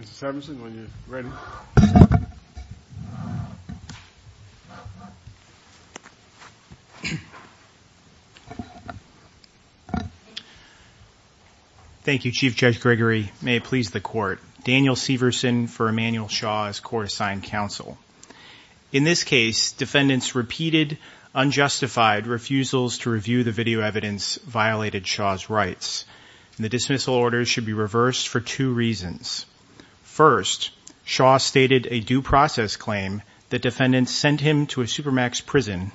Mr. Severson, when you're ready. Thank you, Chief Judge Gregory. May it please the court. Daniel Severson for Emmanuel Shaw's court-assigned counsel. In this case, defendants repeated unjustified refusals to review the video evidence violated Shaw's rights. The dismissal order should be reversed for two reasons. First, Shaw stated a due process claim that defendants sent him to a Supermax prison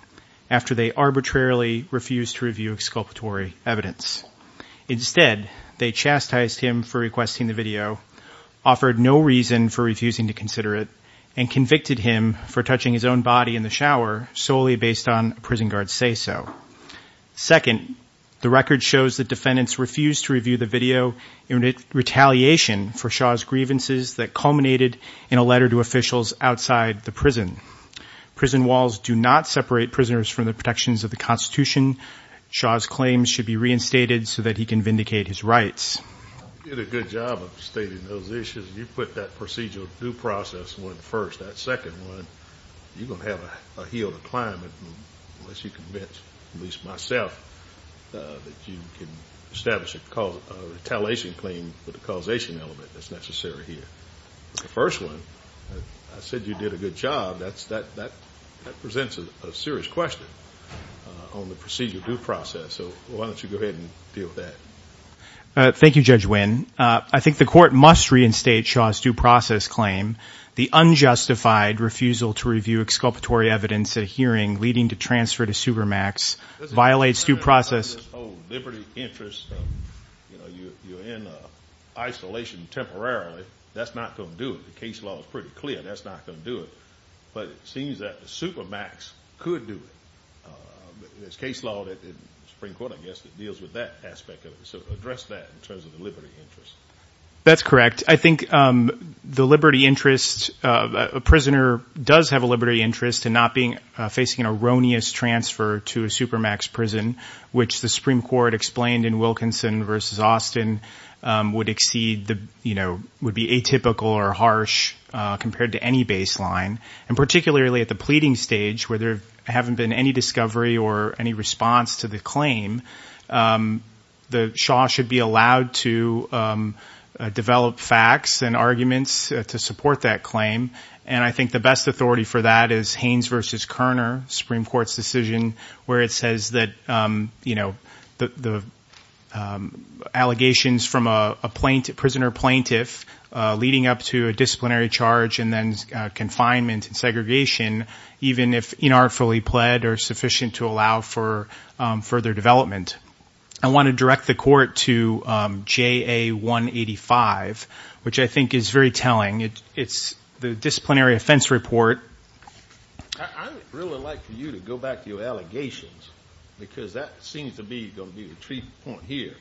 after they arbitrarily refused to review exculpatory evidence. Instead, they chastised him for requesting the video, offered no reason for refusing to consider it, and convicted him for touching his own body in the shower solely based on a prison guard's say-so. Second, the record shows that defendants refused to review the video in retaliation for Shaw's grievances that culminated in a letter to officials outside the prison. Prison walls do not separate prisoners from the protections of the Constitution. Shaw's claims should be reinstated so that he can Thank you, Judge Wynn. I think the court must reinstate Shaw's due process claim. The unjustified refusal to review exculpatory evidence at a hearing leading to transfer to Supermax violates due interest. You're in isolation temporarily. That's not going to do it. The case law is pretty clear. That's not going to do it. But it seems that the Supermax could do it. There's case law that the Supreme Court, I guess, that deals with that aspect of it. So address that in terms of the liberty interest. That's correct. I think the liberty interest, a prisoner does have a liberty interest in not facing an erroneous transfer to a Supermax prison, which the Supreme Court explained in Wilkinson v. Austin would be atypical or harsh compared to any baseline. And particularly at the pleading stage, where there haven't been any discovery or any response to the claim, the Shaw should be allowed to develop facts and arguments to support that claim. And I think the best authority for that is Haynes v. Kerner, Supreme Court's decision, where it says that the allegations from a prisoner plaintiff leading up to a disciplinary charge and then confinement and segregation, even if inartfully pled, are sufficient to allow for further development. I want to direct the court to AA185, which I think is very telling. It's the disciplinary offense report. I would really like for you to go back to your allegations, because that seems to be going to be the treatment point here,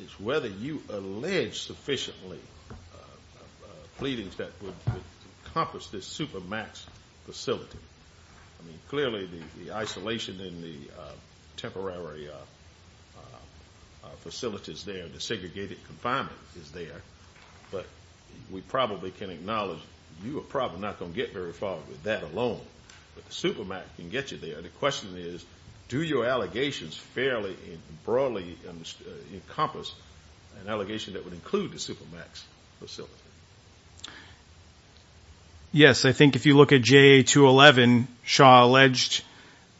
is whether you allege sufficiently pleadings that would encompass this Supermax facility. Clearly the isolation in the temporary facilities there, the segregated confinement is there. But we probably can acknowledge, you are probably not going to get very far with that alone. But the Supermax can get you there. The question is, do your allegations fairly and broadly encompass an allegation that would include the Supermax facility? Yes, I think if you look at JA211, Shaw alleged,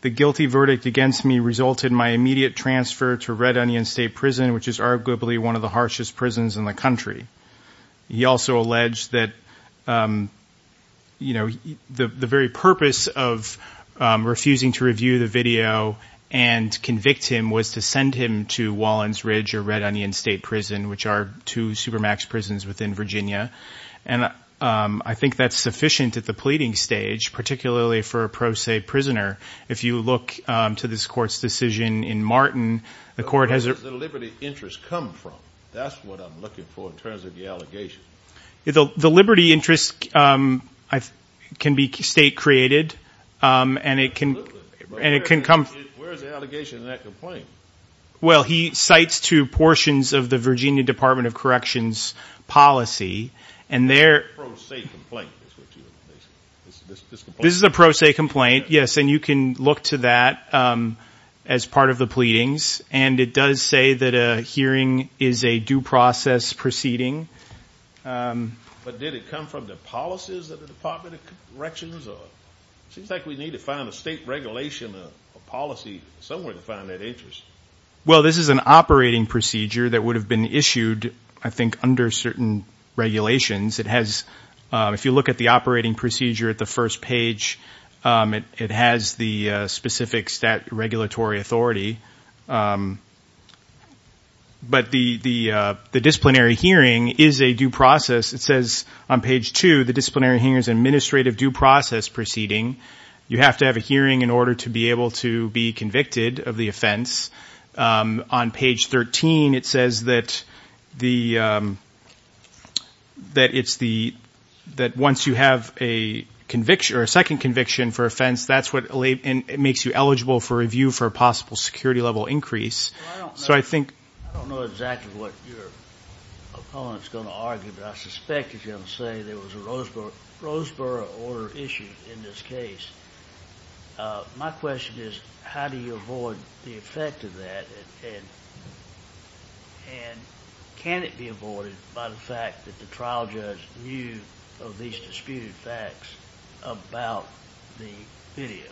the guilty verdict against me resulted in my immediate transfer to Red Onion State Prison, which is arguably one of the harshest prisons in the country. He also alleged that the very purpose of refusing to review the video and convict him was to send him to And I think that's sufficient at the pleading stage, particularly for a pro se prisoner. If you look to this court's decision in Martin, the court has a... Where does the liberty interest come from? That's what I'm looking for in terms of the allegation. The liberty interest can be state created, and it can come... Where is the allegation in that complaint? Well, he cites two portions of the Virginia Department of Corrections policy, and there... A pro se complaint is what you're basically... This is a pro se complaint, yes, and you can look to that as part of the pleadings. And it does say that a hearing is a due process proceeding. But did it come from the policies of the Department of Corrections? It seems like we need to find a state regulation, a policy somewhere to find that interest. Well, this is an operating procedure that would have been issued, I think, under certain regulations. It has... If you look at the operating procedure at the first page, it has the specific state regulatory authority. But the disciplinary hearing is a due process. It says on page two, the disciplinary hearing is an order to be able to be convicted of the offense. On page 13, it says that once you have a second conviction for offense, that's what makes you eligible for review for a possible security level increase. So I think... I don't know exactly what your opponent's going to argue, but I suspect he's going to say there was a My question is, how do you avoid the effect of that? And can it be avoided by the fact that the trial judge knew of these disputed facts about the video?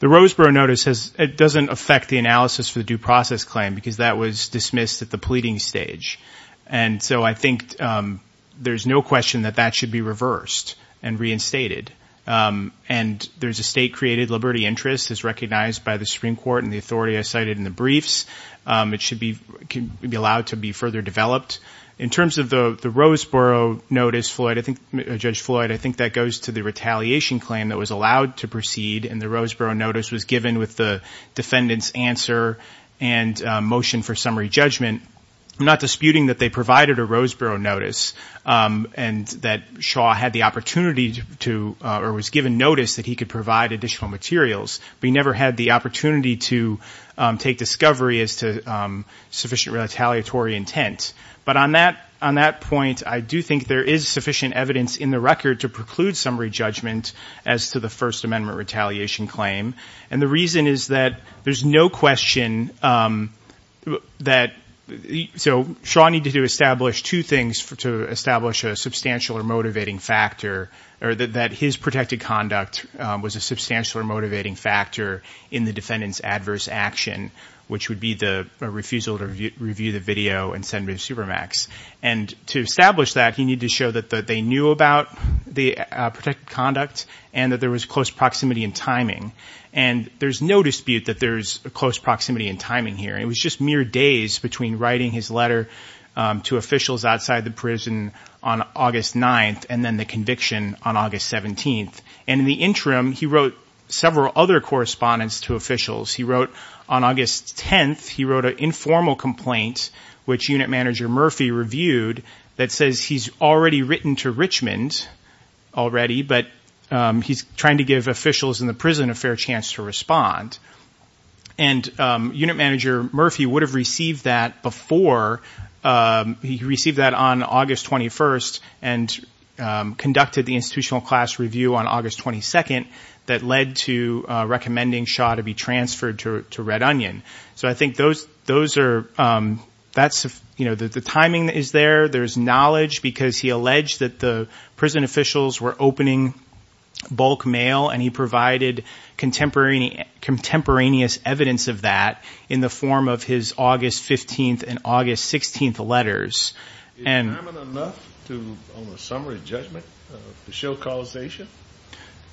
The Roseboro Notice doesn't affect the analysis for the due process claim because that was dismissed at the pleading stage. And so I think there's no question that that should be reversed and reinstated. And there's a state-created liberty interest as recognized by the Supreme Court and the authority I cited in the briefs. It should be allowed to be further developed. In terms of the Roseboro Notice, Judge Floyd, I think that goes to the retaliation claim that was allowed to proceed and the Roseboro Notice was given with the defendant's answer and motion for summary judgment. I'm not disputing that they provided a Roseboro Notice and that Shaw had the additional materials, but he never had the opportunity to take discovery as to sufficient retaliatory intent. But on that point, I do think there is sufficient evidence in the record to preclude summary judgment as to the First Amendment retaliation claim. And the reason is that there's no question that... So Shaw needed to establish two things to establish a substantial or motivating factor, or that his protected conduct was a substantial or motivating factor in the defendant's adverse action, which would be the refusal to review the video and send it to Supermax. And to establish that, he needed to show that they knew about the protected conduct and that there was close proximity and timing. And there's no dispute that there's close proximity and timing here. It was just mere days between writing his letter to officials outside the prison on August 9th and then the conviction on August 17th. And in the interim, he wrote several other correspondence to officials. He wrote, on August 10th, he wrote an informal complaint, which Unit Manager Murphy reviewed, that says he's already written to Richmond already, but he's trying to give officials in the prison a fair chance to respond. And Unit Manager Murphy would have received that before. He received that on August 21st and conducted the institutional class review on August 22nd that led to recommending Shaw to be transferred to Red Onion. So I think those are... The timing is there. There's knowledge, because he alleged that the prison officials were opening bulk mail, and he provided contemporaneous evidence of that in the form of his August 15th and August 16th letters. Is timing enough on a summary judgment to show causation?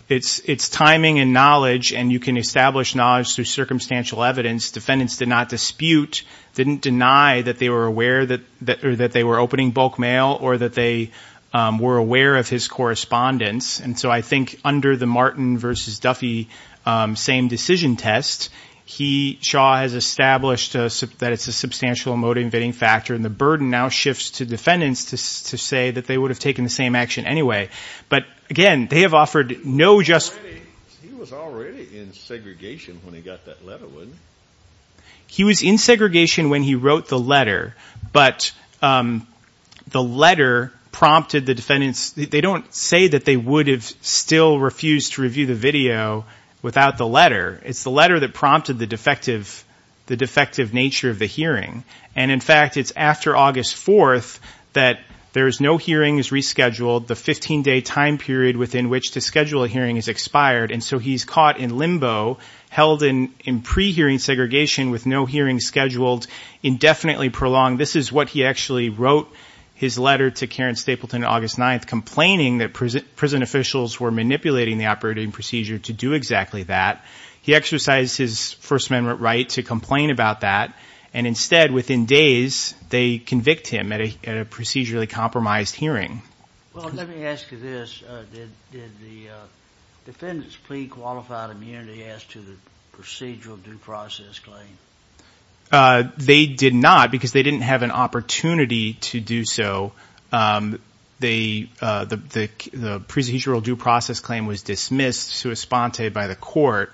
It's timing and knowledge, and you can establish knowledge through circumstantial evidence. Defendants did not dispute, didn't deny that they were aware that they were opening bulk mail or that they were aware of his correspondence. And so I think under the Martin v. Duffy same decision test, Shaw has established that it's a substantial motivating factor, and the burden now shifts to defendants to say that they would have taken the same action anyway. But again, they have offered no just... He was already in segregation when he got that letter, wasn't he? He was in segregation when he wrote the letter, but the letter prompted the defendants... They don't say that they would have still refused to review the video without the letter. It's the letter that prompted the defective nature of the hearing. And in fact, it's after August 4th that there's no hearings rescheduled, the 15-day time period within which to indefinitely prolong. This is what he actually wrote his letter to Karen Stapleton on August 9th, complaining that prison officials were manipulating the operating procedure to do exactly that. He exercised his First Amendment right to complain about that, and instead, within days, they convict him at a procedurally compromised hearing. Well, let me ask you this. Did the defendants plea qualified immunity as to the procedural due process claim? They did not, because they didn't have an opportunity to do so. The procedural due process claim was dismissed sui sponte by the court,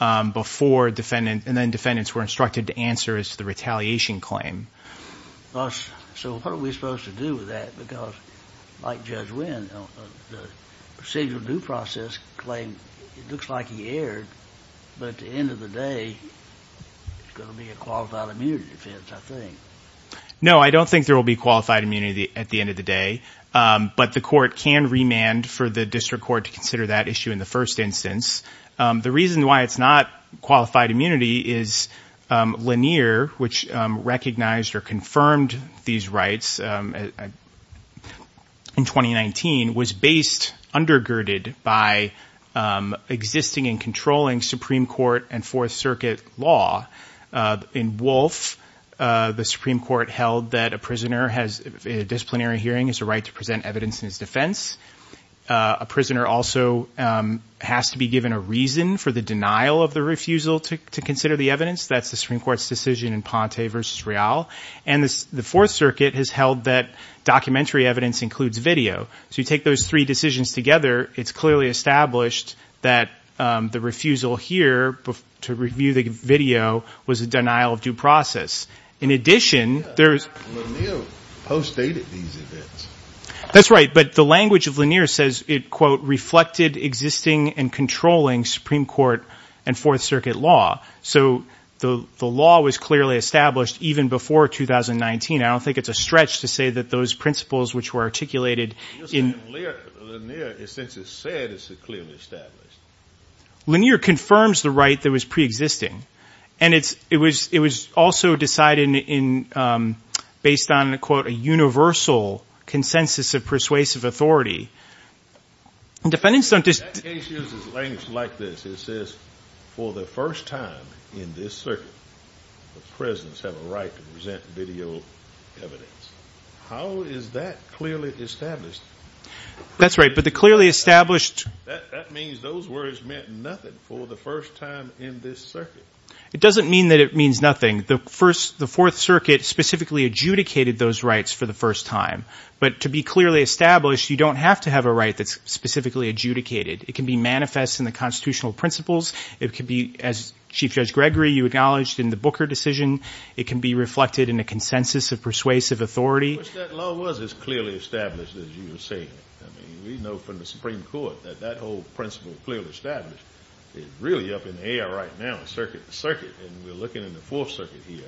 and then defendants were instructed to answer as to the retaliation claim. So what are we supposed to do with that? Because, like Judge Wynn, the procedural due process claim, it looks like he erred, but at the end of the day, it's going to be a qualified immunity defense, I think. No, I don't think there will be qualified immunity at the end of the day, but the court can remand for the district court to consider that issue in the first instance. The reason why it's not qualified immunity is Lanier, which recognized or confirmed these rights in 2019, was based, undergirded by existing and controlling Supreme Court and Fourth Circuit law. In Wolfe, the Supreme Court held that a prisoner has, in a disciplinary hearing, has a right to present evidence in his defense. A prisoner also has to be given a reason for the denial of the refusal to consider the evidence. That's the Supreme Court's decision in Ponte v. Real, and the Fourth Circuit has held that documentary evidence includes video. So you take those three decisions together, it's clearly established that the refusal here to review the video was a denial of due process. In addition, there's... Lanier postdated these events. That's right, but the language of Lanier says it, quote, reflected existing and controlling Supreme Court and Fourth Circuit law. So the law was clearly established even before 2019. I don't think it's a stretch to say that those principles which were articulated in... Lanier, in a sense, has said it's clearly established. Lanier confirms the right that was preexisting, and it was also decided based on, quote, a universal consensus of persuasive authority. And defendants don't just... That case uses language like this. It says, for the first time in this circuit, the presidents have a right to present video evidence. How is that clearly established? That's right, but the clearly established... That means those words meant nothing for the first time in this circuit. It doesn't mean that it means nothing. The Fourth Circuit specifically adjudicated those rights for the first time. But to be clearly established, you don't have to have a right that's specifically adjudicated. It can be manifest in the constitutional principles. It can be, as Chief Judge Gregory, you acknowledged, in the Booker decision. It can be reflected in a consensus of persuasive authority. I wish that law was as clearly established as you were saying it. I mean, we know from the Supreme Court that that whole principle of clearly established is really up in the air right now in the circuit, and we're looking in the Fourth Circuit here.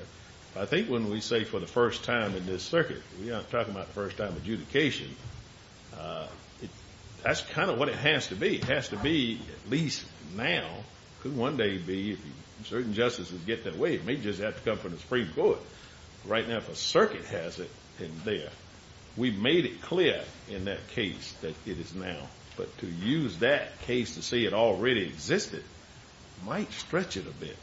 I think when we say, for the first time in this circuit, we're not talking about first-time adjudication. That's kind of what it has to be. It has to be, at least now, could one day be, if certain justices get their way, it may just have to come from the Supreme Court. Right now, if a circuit has it in there, we've made it clear in that case that it is now. But to use that case to say it already existed might stretch it a bit.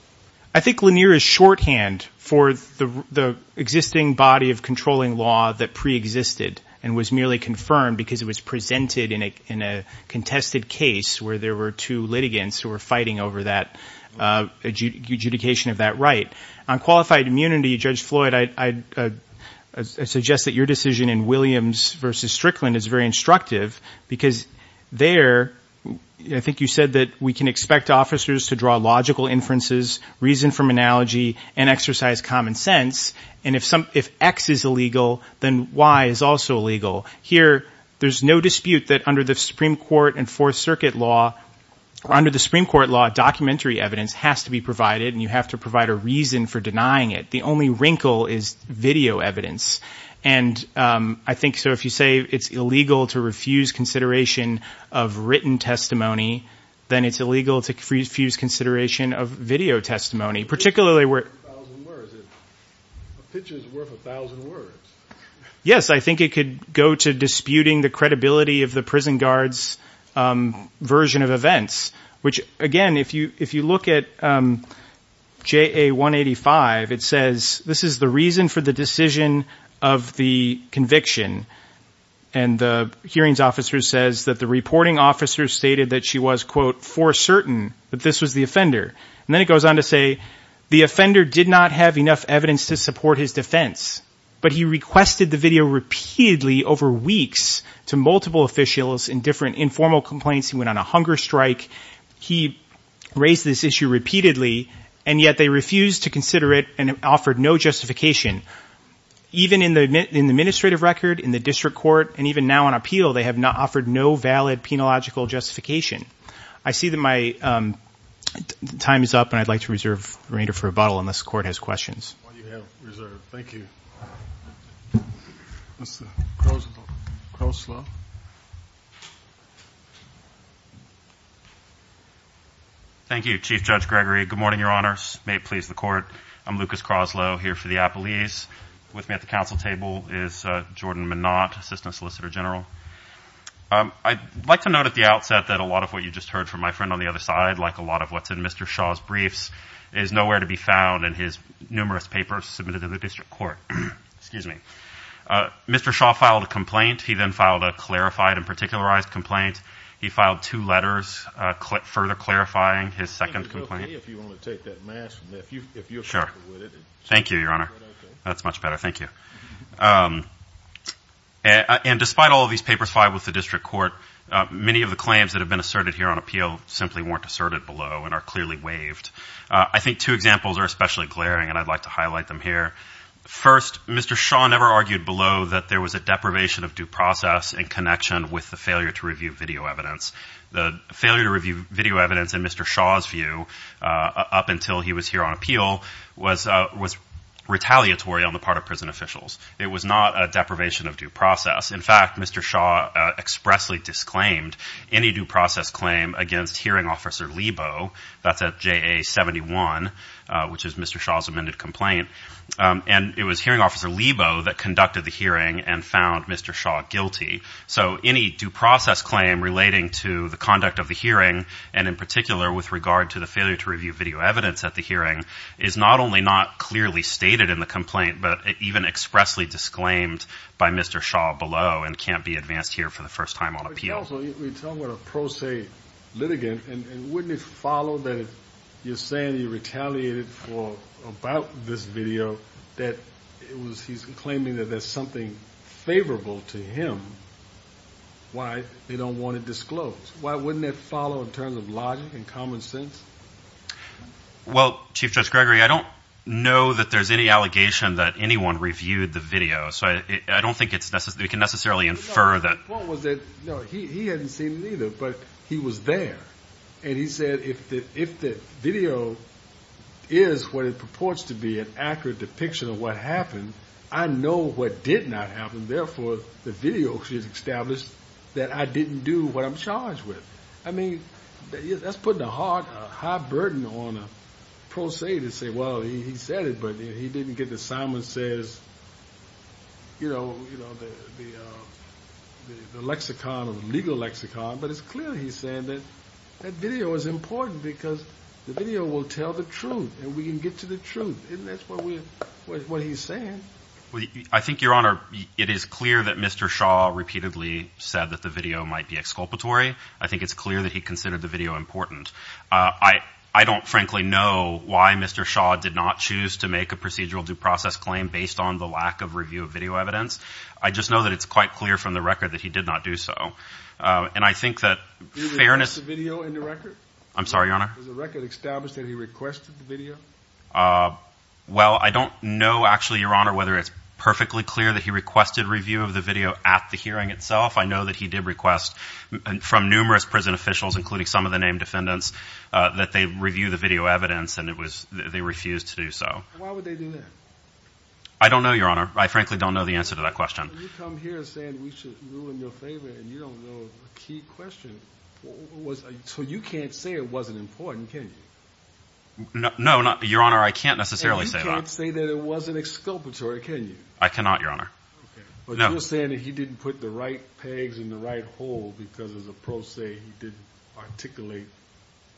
I think Lanier is shorthand for the existing body of controlling law that preexisted and was merely confirmed because it was presented in a contested case where there were two litigants who were fighting over that adjudication of that right. On qualified immunity, Judge Floyd, I suggest that your decision in Williams v. Strickland is very instructive because there, I think you said that we can expect officers to draw logical inferences, reason from analogy, and exercise common sense. And if X is illegal, then Y is also illegal. Here, there's no dispute that under the Supreme Court and Fourth Circuit law, or under the Supreme Court law, documentary evidence has to be provided and you have to provide a reason for denying it. The only wrinkle is video evidence. And I think, so if you say it's illegal to refuse consideration of written testimony, then it's illegal to refuse consideration of video testimony. A picture is worth a thousand words. Yes, I think it could go to disputing the credibility of the prison guard's version of events, which again, if you look at JA 185, it says this is the reason for the decision of the conviction. And the hearings officer says that the reporting officer stated that she was, quote, for certain that this was the offender. And then it goes on to say the offender did not have enough evidence to support his defense, but he requested the video repeatedly over weeks to multiple officials in different informal complaints. He went on a hunger strike. He raised this issue repeatedly, and yet they refused to consider it and offered no justification. Even in the administrative record, in the district court, and even now on appeal, they have offered no valid penological justification. I see that my time is up, and I'd like to reserve the remainder for rebuttal unless the court has questions. Well, you have reserved. Thank you. Thank you, Chief Judge Gregory. Good morning, Your Honors. May it please the court. I'm Lucas Croslow here for the appellees. With me at the council table is Jordan Mnott, Assistant Solicitor General. I'd like to note at the outset that a lot of what you just heard from my friend on the other side, like a lot of what's in Mr. Shaw's briefs, is nowhere to be found in his numerous papers submitted to the district court. Excuse me. Mr. Shaw filed a complaint. He then filed a clarified and particularized complaint. He filed two letters further clarifying his second complaint. Is it okay if you want to take that mask off? Thank you, Your Honor. That's much better. Thank you. And despite all of these papers filed with the district court, many of the claims that have been asserted here on appeal simply weren't asserted below and are clearly waived. I think two examples are especially glaring, and I'd like to highlight them here. First, Mr. Shaw never argued below that there was a deprivation of due process in connection with the failure to review video evidence. The failure to review video evidence, in Mr. Shaw's view, up until he was here on appeal, was retaliatory on the part of prison officials. It was not a deprivation of due process. In fact, Mr. Shaw expressly disclaimed any due process claim against hearing officer Lebo. That's at JA-71, which is Mr. Shaw's amended complaint. And it was hearing officer Lebo that conducted the hearing and found Mr. Shaw guilty. So any due process claim relating to the conduct of the hearing, and in particular with regard to the failure to review video evidence at the hearing, is not only not clearly stated in the complaint, but even expressly disclaimed by Mr. Shaw below and can't be advanced here for the first time on appeal. Also, you're talking about a pro se litigant, and wouldn't it follow that if you're saying you retaliated about this video that he's claiming that there's something favorable to him, why they don't want it disclosed? Why wouldn't that follow in terms of logic and common sense? Well, Chief Judge Gregory, I don't know that there's any allegation that anyone reviewed the video, so I don't think we can necessarily infer that. No, the point was that he hadn't seen it either, but he was there. And he said if the video is what it purports to be, an accurate depiction of what happened, I know what did not happen, therefore the video should establish that I didn't do what I'm charged with. I mean, that's putting a high burden on a pro se to say, well, he said it, but he didn't get the Simon Says, you know, the lexicon of legal lexicon. But it's clear he's saying that that video is important because the video will tell the truth, and we can get to the truth, and that's what he's saying. I think, Your Honor, it is clear that Mr. Shaw repeatedly said that the video might be exculpatory. I think it's clear that he considered the video important. I don't, frankly, know why Mr. Shaw did not choose to make a procedural due process claim based on the lack of review of video evidence. I just know that it's quite clear from the record that he did not do so. And I think that fairness— Did he request a video in the record? I'm sorry, Your Honor? Was the record established that he requested the video? Well, I don't know, actually, Your Honor, whether it's perfectly clear that he requested review of the video at the hearing itself. I know that he did request from numerous prison officials, including some of the named defendants, that they review the video evidence, and they refused to do so. Why would they do that? I don't know, Your Honor. I frankly don't know the answer to that question. You come here saying we should rule in your favor, and you don't know a key question. So you can't say it wasn't important, can you? No, Your Honor, I can't necessarily say that. And you can't say that it wasn't exculpatory, can you? I cannot, Your Honor. But you're saying that he didn't put the right pegs in the right hole because, as the pros say, he didn't articulate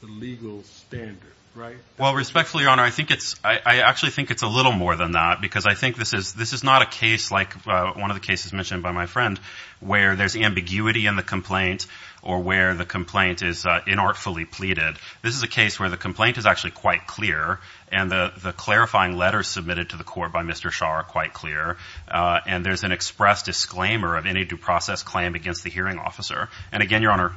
the legal standard, right? Well, respectfully, Your Honor, I actually think it's a little more than that because I think this is not a case like one of the cases mentioned by my friend where there's ambiguity in the complaint or where the complaint is inartfully pleaded. This is a case where the complaint is actually quite clear, and the clarifying letters submitted to the court by Mr. Shaw are quite clear. And there's an express disclaimer of any due process claim against the hearing officer. And again, Your Honor,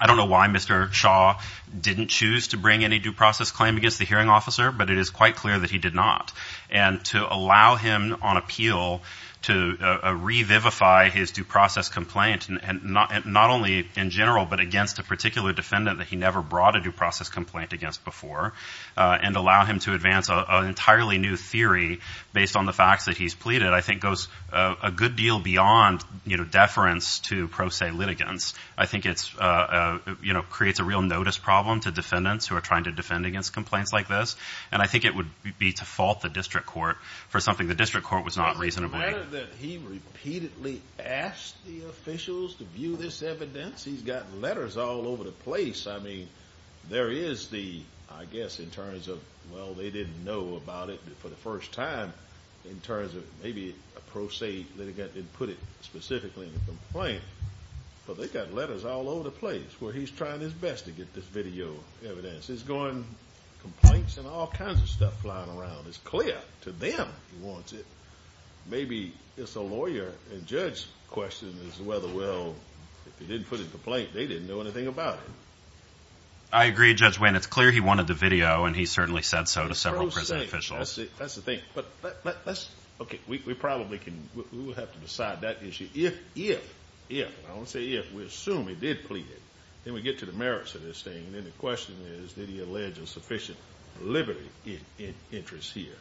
I don't know why Mr. Shaw didn't choose to bring any due process claim against the hearing officer, but it is quite clear that he did not. And to allow him on appeal to revivify his due process complaint, not only in general but against a particular defendant that he never brought a due process complaint against before, and allow him to advance an entirely new theory based on the facts that he's pleaded, I think goes a good deal beyond, you know, deference to pro se litigants. I think it's, you know, creates a real notice problem to defendants who are trying to defend against complaints like this. And I think it would be to fault the district court for something the district court was not reasonable. The matter that he repeatedly asked the officials to view this evidence, he's got letters all over the place. I mean, there is the, I guess, in terms of, well, they didn't know about it for the first time, in terms of maybe a pro se litigant didn't put it specifically in the complaint. But they've got letters all over the place where he's trying his best to get this video evidence. He's going complaints and all kinds of stuff flying around. It's clear to them he wants it. Maybe it's a lawyer and judge's question is whether, well, if he didn't put it in the complaint, they didn't know anything about it. I agree, Judge Wayne. It's clear he wanted the video, and he certainly said so to several prison officials. That's the thing. But let's, okay, we probably can, we will have to decide that issue if, if, if, and I won't say if, we assume he did plead it, then we get to the merits of this thing. And then the question is, did he allege a sufficient liberty interest here?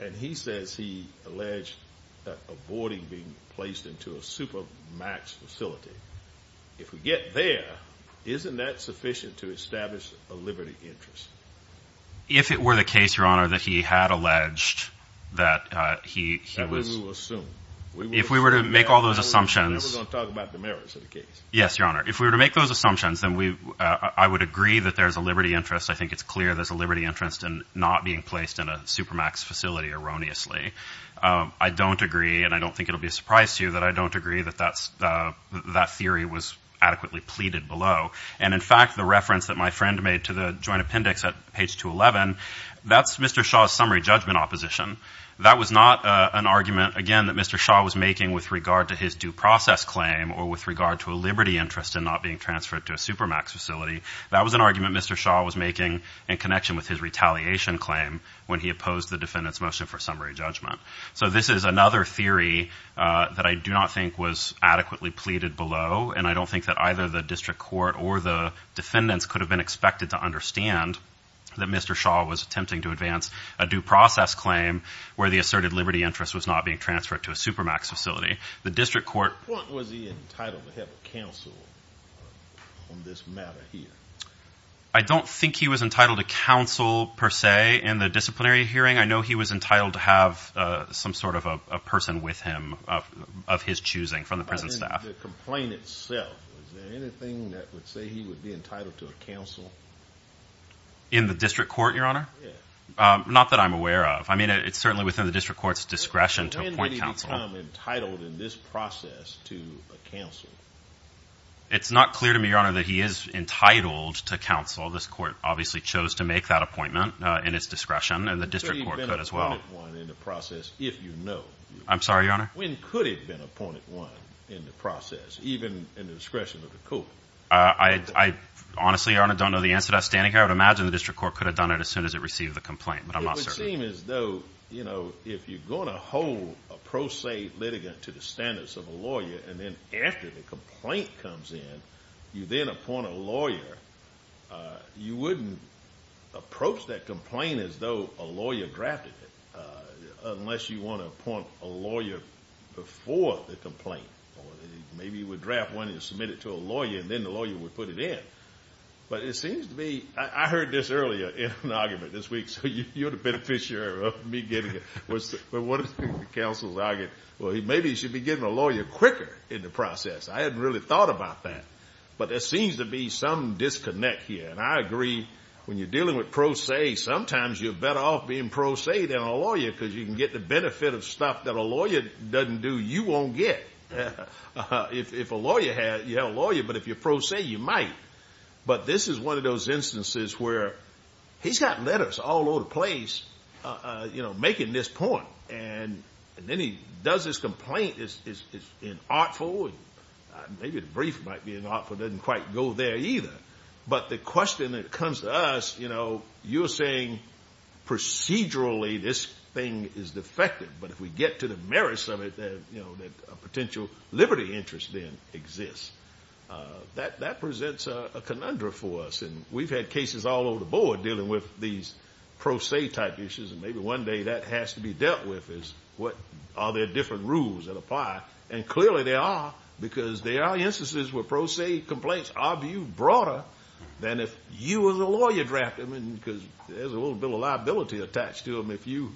And he says he alleged a boarding being placed into a super max facility. If we get there, isn't that sufficient to establish a liberty interest? If it were the case, Your Honor, that he had alleged that he, he was. And then we will assume. If we were to make all those assumptions. Then we're going to talk about the merits of the case. Yes, Your Honor. If we were to make those assumptions, then we, I would agree that there's a liberty interest. I think it's clear there's a liberty interest in not being placed in a super max facility erroneously. I don't agree, and I don't think it'll be a surprise to you that I don't agree that that's, that theory was adequately pleaded below. And in fact, the reference that my friend made to the joint appendix at page 211, that's Mr. Shaw's summary judgment opposition. That was not an argument, again, that Mr. Shaw was making with regard to his due process claim or with regard to a liberty interest in not being transferred to a super max facility. That was an argument Mr. Shaw was making in connection with his retaliation claim when he opposed the defendant's motion for summary judgment. So this is another theory that I do not think was adequately pleaded below. And I don't think that either the district court or the defendants could have been expected to understand that Mr. Shaw was attempting to advance a due process claim where the asserted liberty interest was not being transferred to a super max facility. The district court. Was he entitled to counsel on this matter here? I don't think he was entitled to counsel per se in the disciplinary hearing. I know he was entitled to have some sort of a person with him of his choosing from the prison staff. The complaint itself, is there anything that would say he would be entitled to a counsel? In the district court, Your Honor? Yeah. Not that I'm aware of. I mean, it's certainly within the district court's discretion to appoint counsel. When did he become entitled in this process to a counsel? It's not clear to me, Your Honor, that he is entitled to counsel. This court obviously chose to make that appointment in its discretion, and the district court could as well. When could he have been appointed one in the process, if you know? I'm sorry, Your Honor? When could he have been appointed one in the process, even in the discretion of the court? I honestly, Your Honor, don't know the answer to that standing here. I would imagine the district court could have done it as soon as it received the complaint, but I'm not certain. It would seem as though, you know, if you're going to hold a pro se litigant to the standards of a lawyer, and then after the complaint comes in, you then appoint a lawyer, you wouldn't approach that complaint as though a lawyer drafted it, unless you want to appoint a lawyer before the complaint. Maybe you would draft one and submit it to a lawyer, and then the lawyer would put it in. But it seems to me, I heard this earlier in an argument this week, so you're the beneficiary of me getting it. But one of the counsels argued, well, maybe you should be getting a lawyer quicker in the process. I hadn't really thought about that, but there seems to be some disconnect here. And I agree, when you're dealing with pro se, sometimes you're better off being pro se than a lawyer, because you can get the benefit of stuff that a lawyer doesn't do, you won't get. If a lawyer has, you have a lawyer, but if you're pro se, you might. But this is one of those instances where he's got letters all over the place, you know, making this point. And then he does this complaint, it's inartful, and maybe the brief might be inartful, it doesn't quite go there either. But the question that comes to us, you know, you're saying procedurally this thing is defective, but if we get to the merits of it, that a potential liberty interest then exists. That presents a conundrum for us, and we've had cases all over the board dealing with these pro se type issues, and maybe one day that has to be dealt with, is are there different rules that apply. And clearly there are, because there are instances where pro se complaints are viewed broader than if you as a lawyer drafted them, because there's a little bit of liability attached to them if you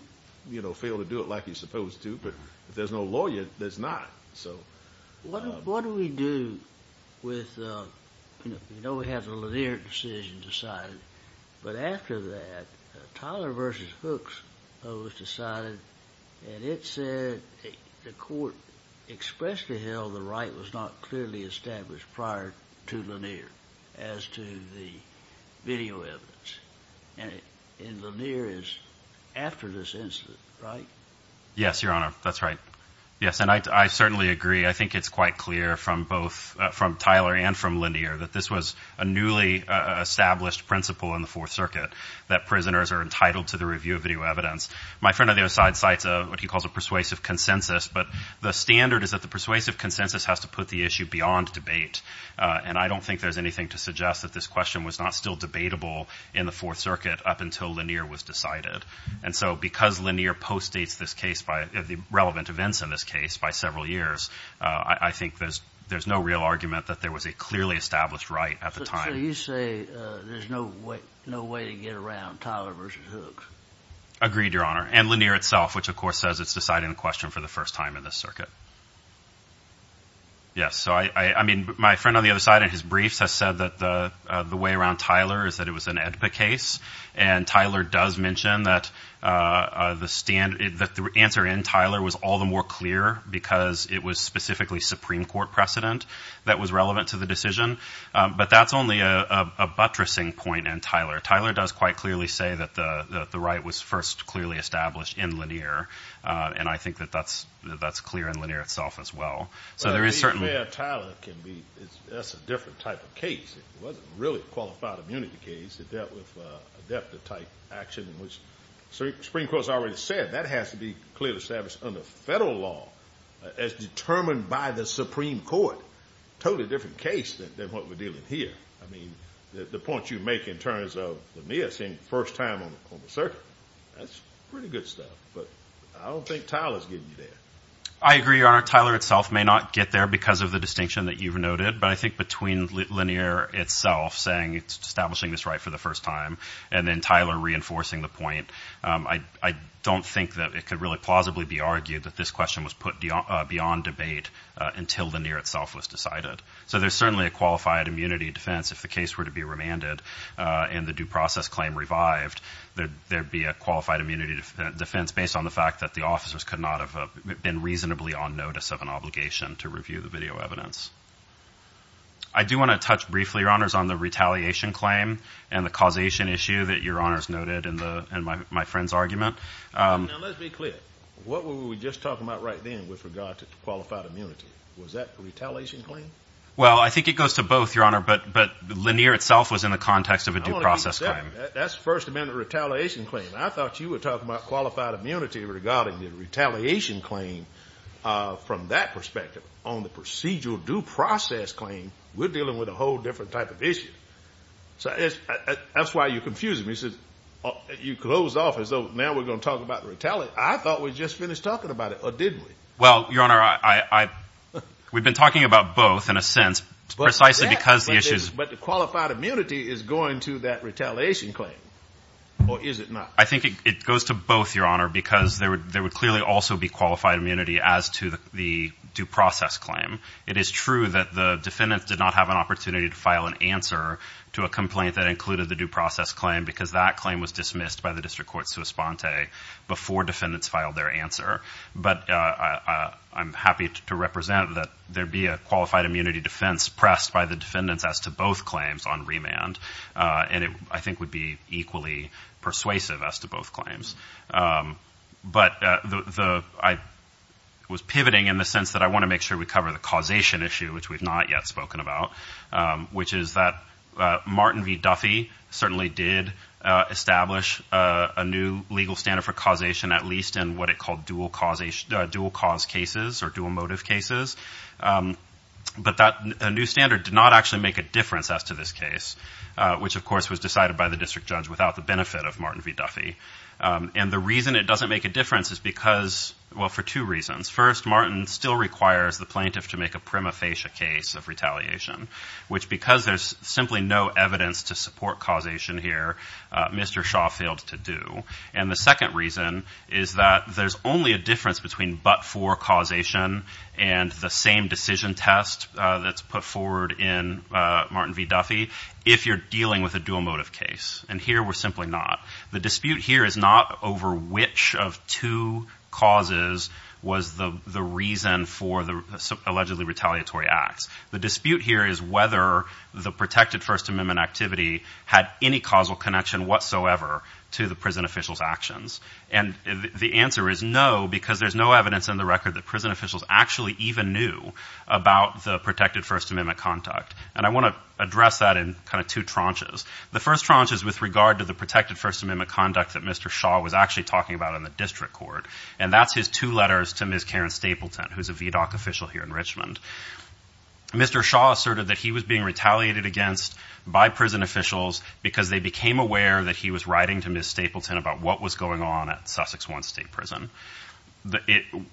fail to do it like you're supposed to, but if there's no lawyer, there's not. What do we do with, you know, we have a linear decision decided, but after that, Tyler versus Hooks was decided, and it said the court expressed to Hill the right was not clearly established prior to Lanier as to the video evidence. And Lanier is after this incident, right? Yes, Your Honor, that's right. Yes, and I certainly agree. I think it's quite clear from both, from Tyler and from Lanier, that this was a newly established principle in the Fourth Circuit, that prisoners are entitled to the review of video evidence. My friend on the other side cites what he calls a persuasive consensus, but the standard is that the persuasive consensus has to put the issue beyond debate, and I don't think there's anything to suggest that this question was not still debatable in the Fourth Circuit up until Lanier was decided. And so because Lanier postdates this case by the relevant events in this case by several years, I think there's no real argument that there was a clearly established right at the time. So you say there's no way to get around Tyler versus Hooks? Agreed, Your Honor, and Lanier itself, which of course says it's deciding the question for the first time in this circuit. Yes, so I mean, my friend on the other side in his briefs has said that the way around Tyler is that it was an AEDPA case, and Tyler does mention that the answer in Tyler was all the more clear, because it was specifically Supreme Court precedent that was relevant to the decision. But that's only a buttressing point in Tyler. Tyler does quite clearly say that the right was first clearly established in Lanier, and I think that that's clear in Lanier itself as well. But the AEDPA of Tyler can be a different type of case. It wasn't really a qualified immunity case. It dealt with a depth of type action in which Supreme Court has already said that has to be clearly established under federal law as determined by the Supreme Court. Totally different case than what we're dealing here. I mean, the point you make in terms of the missing first time on the circuit, that's pretty good stuff. But I don't think Tyler's getting you there. I agree, Your Honor. Tyler itself may not get there because of the distinction that you've noted, but I think between Lanier itself saying it's establishing this right for the first time and then Tyler reinforcing the point, I don't think that it could really plausibly be argued that this question was put beyond debate until Lanier itself was decided. So there's certainly a qualified immunity defense. If the case were to be remanded and the due process claim revived, there would be a qualified immunity defense based on the fact that the officers could not have been reasonably on notice of an obligation to review the video evidence. I do want to touch briefly, Your Honors, on the retaliation claim and the causation issue that Your Honors noted in my friend's argument. Now, let's be clear. What were we just talking about right then with regard to qualified immunity? Was that the retaliation claim? Well, I think it goes to both, Your Honor, but Lanier itself was in the context of a due process claim. That's the First Amendment retaliation claim. I thought you were talking about qualified immunity regarding the retaliation claim. From that perspective, on the procedural due process claim, we're dealing with a whole different type of issue. So that's why you're confusing me. You closed off as though now we're going to talk about retaliation. I thought we just finished talking about it, or didn't we? Well, Your Honor, we've been talking about both in a sense, precisely because the issue is... But the qualified immunity is going to that retaliation claim, or is it not? I think it goes to both, Your Honor, because there would clearly also be qualified immunity as to the due process claim. It is true that the defendants did not have an opportunity to file an answer to a complaint that included the due process claim because that claim was dismissed by the district court suspente before defendants filed their answer. But I'm happy to represent that there be a qualified immunity defense pressed by the defendants as to both claims on remand. And it, I think, would be equally persuasive as to both claims. But I was pivoting in the sense that I want to make sure we cover the causation issue, which we've not yet spoken about, which is that Martin v. Duffy certainly did establish a new legal standard for causation, at least in what it called dual cause cases or dual motive cases. But that new standard did not actually make a difference as to this case, which, of course, was decided by the district judge without the benefit of Martin v. Duffy. And the reason it doesn't make a difference is because, well, for two reasons. First, Martin still requires the plaintiff to make a prima facie case of retaliation, which because there's simply no evidence to support causation here, Mr. Shaw failed to do. And the second reason is that there's only a difference between but-for causation and the same decision test that's put forward in Martin v. Duffy if you're dealing with a dual motive case. And here we're simply not. The dispute here is not over which of two causes was the reason for the allegedly retaliatory acts. The dispute here is whether the protected First Amendment activity had any causal connection whatsoever to the prison officials' actions. And the answer is no, because there's no evidence in the record that prison officials actually even knew about the protected First Amendment conduct. And I want to address that in kind of two tranches. The first tranche is with regard to the protected First Amendment conduct that Mr. Shaw was actually talking about in the district court. And that's his two letters to Ms. Karen Stapleton, who's a VDOC official here in Richmond. Mr. Shaw asserted that he was being retaliated against by prison officials because they became aware that he was writing to Ms. Stapleton about what was going on at Sussex 1 State Prison.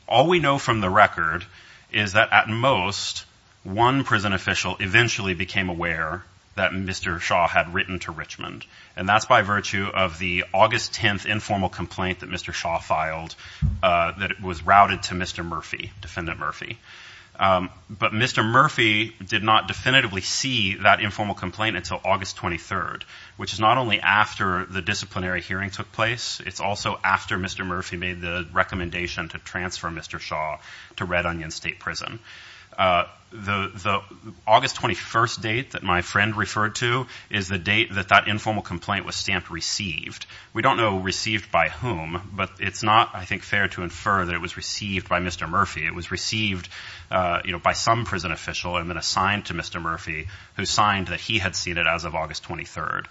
All we know from the record is that at most, one prison official eventually became aware that Mr. Shaw had written to Richmond. And that's by virtue of the August 10th informal complaint that Mr. Shaw filed that was routed to Mr. Murphy, Defendant Murphy. But Mr. Murphy did not definitively see that informal complaint until August 23rd, which is not only after the disciplinary hearing took place. It's also after Mr. Murphy made the recommendation to transfer Mr. Shaw to Red Onion State Prison. The August 21st date that my friend referred to is the date that that informal complaint was stamped received. We don't know received by whom, but it's not, I think, fair to infer that it was received by Mr. Murphy. It was received by some prison official and then assigned to Mr. Murphy, who signed that he had seen it as of August 23rd.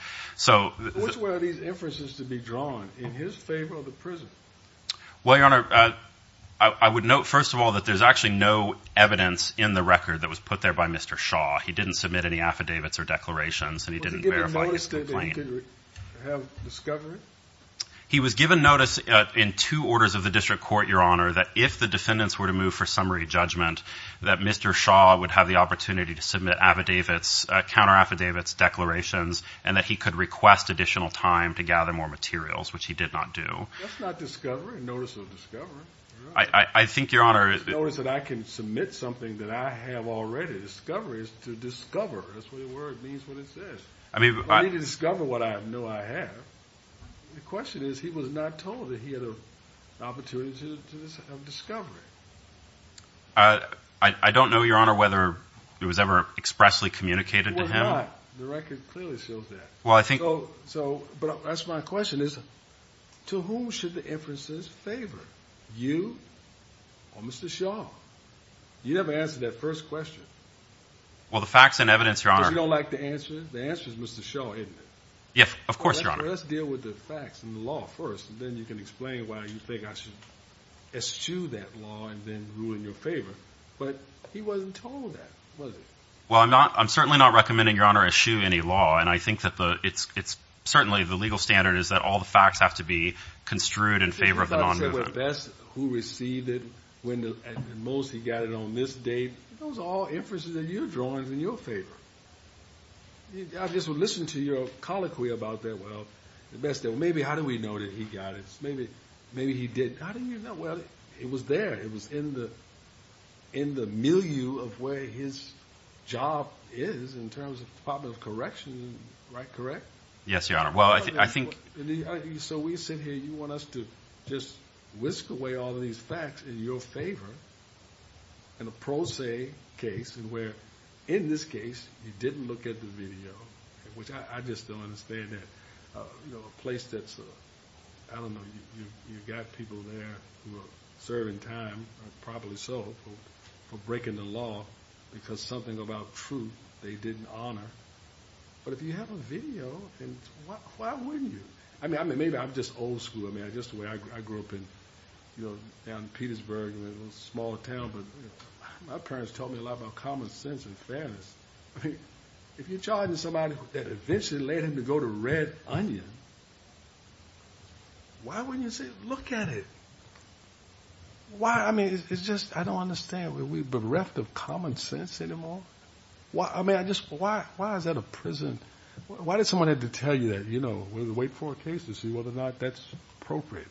Which way are these inferences to be drawn in his favor of the prison? Well, Your Honor, I would note, first of all, that there's actually no evidence in the record that was put there by Mr. Shaw. He didn't submit any affidavits or declarations, and he didn't verify his complaint. Was he given notice that he could have discovery? He was given notice in two orders of the district court, Your Honor, that if the defendants were to move for summary judgment, that Mr. Shaw would have the opportunity to submit affidavits, counter-affidavits, declarations, and that he could request additional time to gather more materials, which he did not do. That's not discovery, notice of discovery. Notice that I can submit something that I have already discovered is to discover. That's what the word means, what it says. I need to discover what I know I have. The question is, he was not told that he had an opportunity of discovery. I don't know, Your Honor, whether it was ever expressly communicated to him. It was not. The record clearly shows that. But that's my question is, to whom should the inferences favor, you or Mr. Shaw? You never answered that first question. You don't like the answer? The answer is Mr. Shaw, isn't it? Let's deal with the facts and the law first, and then you can explain why you think I should eschew that law and then ruin your favor. But he wasn't told that, was he? Well, I'm certainly not recommending, Your Honor, eschew any law. And I think that it's certainly the legal standard is that all the facts have to be construed in favor of the nonmovement. But the best who received it and most who got it on this date, those are all inferences in your drawings in your favor. I just would listen to your colloquy about that. Well, maybe how do we know that he got it? Maybe he didn't. How do you know? Well, it was there. It was in the milieu of where his job is in terms of the Department of Correction. Right, correct? Yes, Your Honor. So we sit here, you want us to just whisk away all these facts in your favor in a pro se case, where in this case he didn't look at the video, which I just don't understand that. You know, a place that's, I don't know, you've got people there who are serving time, probably so, for breaking the law because something about truth they didn't honor. But if you have a video, then why wouldn't you? I mean, maybe I'm just old school. I mean, just the way I grew up in, you know, down in Petersburg, a little smaller town. But my parents taught me a lot about common sense and fairness. I mean, if you're charging somebody that eventually led him to go to Red Onion, why wouldn't you say, look at it? Why? I mean, it's just, I don't understand. Are we bereft of common sense anymore? Why? I mean, I just, why? Why is that a prison? Why did someone have to tell you that, you know, wait for a case to see whether or not that's appropriate?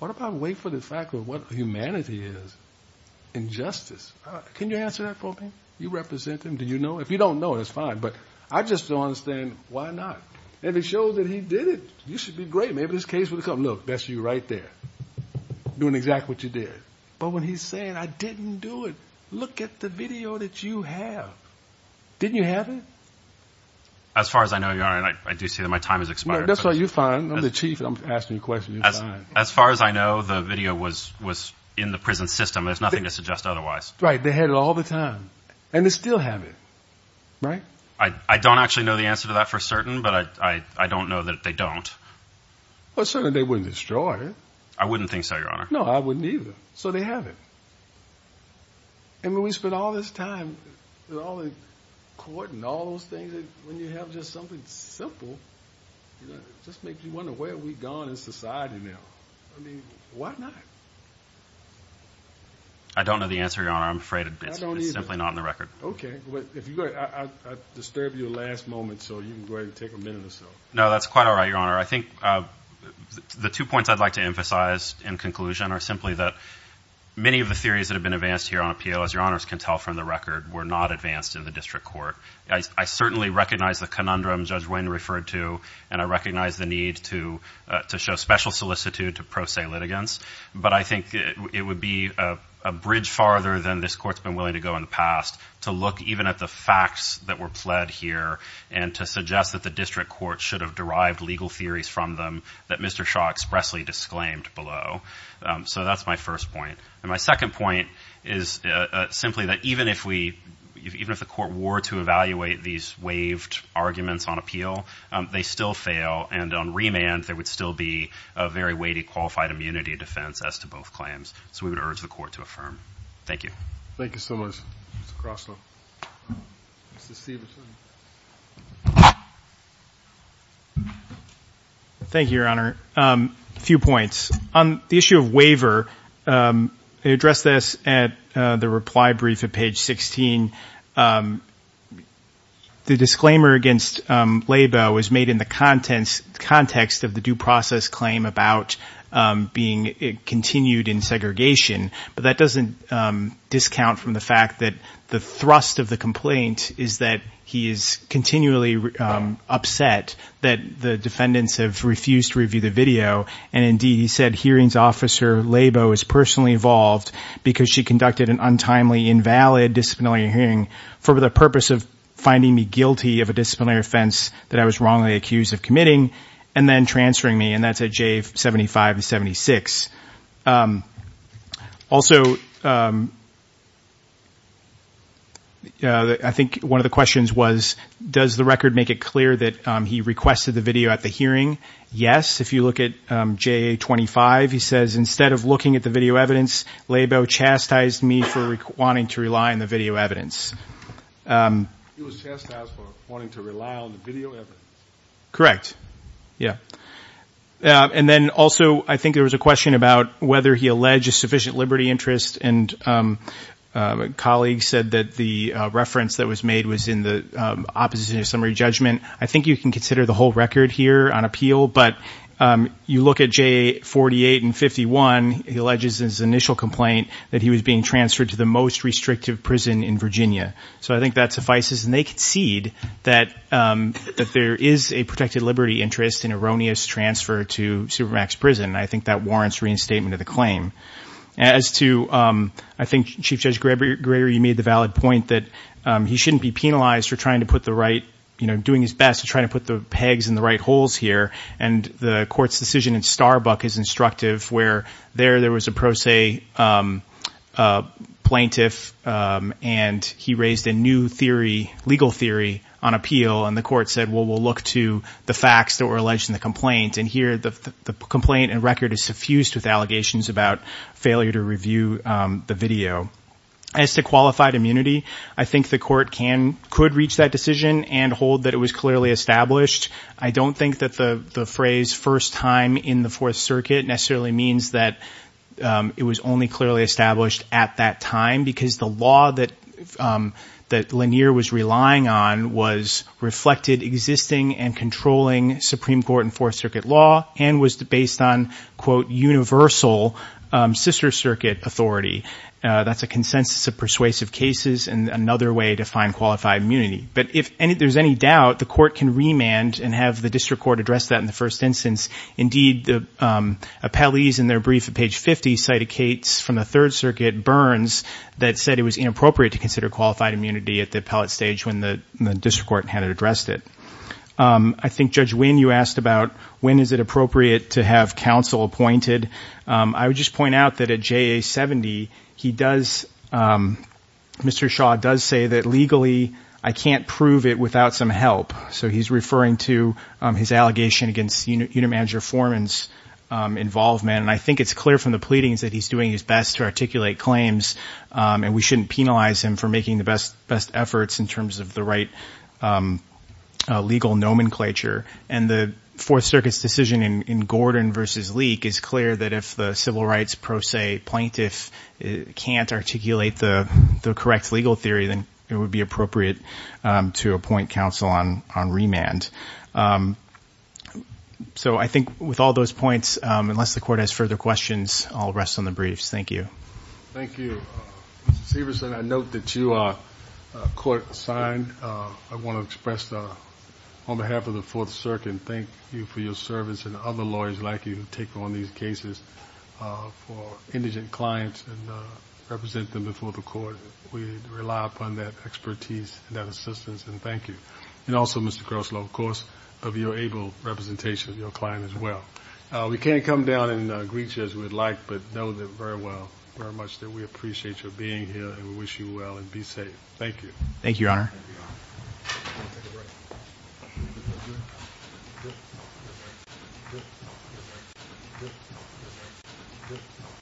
What about wait for the fact of what humanity is? Injustice. Can you answer that for me? You represent him. Do you know? If you don't know, that's fine. But I just don't understand why not? And it shows that he did it. You should be great. Maybe this case would come. Look, that's you right there doing exactly what you did. But when he's saying I didn't do it, look at the video that you have. Didn't you have it? As far as I know, your honor, I do see that my time is expired. That's why you find the chief. I'm asking you questions. As far as I know, the video was was in the prison system. There's nothing to suggest otherwise. Right. They had it all the time and they still have it. Right. I don't actually know the answer to that for certain, but I don't know that they don't. Well, certainly they wouldn't destroy it. I wouldn't think so, your honor. No, I wouldn't either. So they have it. And when we spend all this time with all the court and all those things, when you have just something simple, just make you wonder where we've gone in society now. I mean, why not? I don't know the answer, your honor. I'm afraid it's simply not in the record. OK, well, if I disturb your last moment, so you can go ahead and take a minute or so. No, that's quite all right, your honor. I think the two points I'd like to emphasize in conclusion are simply that many of the theories that have been advanced here on appeal, as your honors can tell from the record, were not advanced in the district court. I certainly recognize the conundrum Judge Wynn referred to, and I recognize the need to show special solicitude to pro se litigants. But I think it would be a bridge farther than this court's been willing to go in the past to look even at the facts that were pled here and to suggest that the district court should have derived legal theories from them that Mr. Shaw expressly disclaimed below. So that's my first point. And my second point is simply that even if we even if the court were to evaluate these waived arguments on appeal, they still fail. And on remand, there would still be a very weighty qualified immunity defense as to both claims. So we would urge the court to affirm. Thank you. Thank you so much. Thank you, your honor. A few points on the issue of waiver. They address this at the reply brief at page 16. The disclaimer against Labo was made in the contents context of the due process claim about being continued in segregation. But that doesn't discount from the fact that the thrust of the complaint is that he is continually upset that the defendants have refused to review the video. And indeed, he said hearings officer Labo is personally involved because she conducted an untimely, invalid disciplinary hearing for the purpose of finding me guilty of a disciplinary offense that I was wrongly accused of committing and then transferring me. And that's a J 75, 76. Also, I think one of the questions was, does the record make it clear that he requested the video at the hearing? Yes. If you look at J 25, he says, instead of looking at the video evidence, Labo chastised me for wanting to rely on the video evidence. Correct. Yeah. And then also, I think there was a question about whether he alleged a sufficient liberty interest and colleagues said that the reference that was made was in the opposite of summary judgment. I think you can consider the whole record here on appeal. But you look at J 48 and 51. He alleges his initial complaint that he was being transferred to the most restrictive prison in Virginia. So I think that suffices. And they concede that there is a protected liberty interest in erroneous transfer to supermax prison. I think that warrants reinstatement of the claim as to I think Chief Judge Gregory, you made the valid point that he shouldn't be penalized for trying to put the right, And the court's decision in Starbuck is instructive where there there was a pro se plaintiff and he raised a new theory, legal theory on appeal. And the court said, well, we'll look to the facts that were alleged in the complaint. And here the complaint and record is suffused with allegations about failure to review the video as to qualified immunity. I think the court can could reach that decision and hold that it was clearly established. I don't think that the phrase first time in the Fourth Circuit necessarily means that it was only clearly established at that time, because the law that that Lanier was relying on was reflected existing and controlling Supreme Court and Fourth Circuit law and was based on, quote, universal sister circuit authority. That's a consensus of persuasive cases and another way to find qualified immunity. But if there's any doubt, the court can remand and have the district court address that in the first instance. Indeed, the appellees in their brief at page 50 cited Kate's from the Third Circuit Burns that said it was inappropriate to consider qualified immunity at the appellate stage when the district court had addressed it. I think, Judge, when you asked about when is it appropriate to have counsel appointed? I would just point out that a J.A. 70 he does. Mr. Shaw does say that legally I can't prove it without some help. So he's referring to his allegation against unit manager foreman's involvement. And I think it's clear from the pleadings that he's doing his best to articulate claims. And we shouldn't penalize him for making the best best efforts in terms of the right legal nomenclature. And the Fourth Circuit's decision in Gordon versus leak is clear that if the civil rights pro se plaintiff can't articulate the correct legal theory, then it would be appropriate to appoint counsel on on remand. So I think with all those points, unless the court has further questions, I'll rest on the briefs. Thank you. Thank you. Severson, I note that you are court assigned. I want to express on behalf of the Fourth Circuit and thank you for your service and other lawyers like you to take on these cases for indigent clients and represent them before the court. We rely upon that expertise and that assistance. And thank you. And also, Mr. Croslow, of course, of your able representation of your client as well. We can't come down and greet you as we'd like, but know that very well, very much that we appreciate your being here and wish you well and be safe. Thank you. Thank you, Your Honor.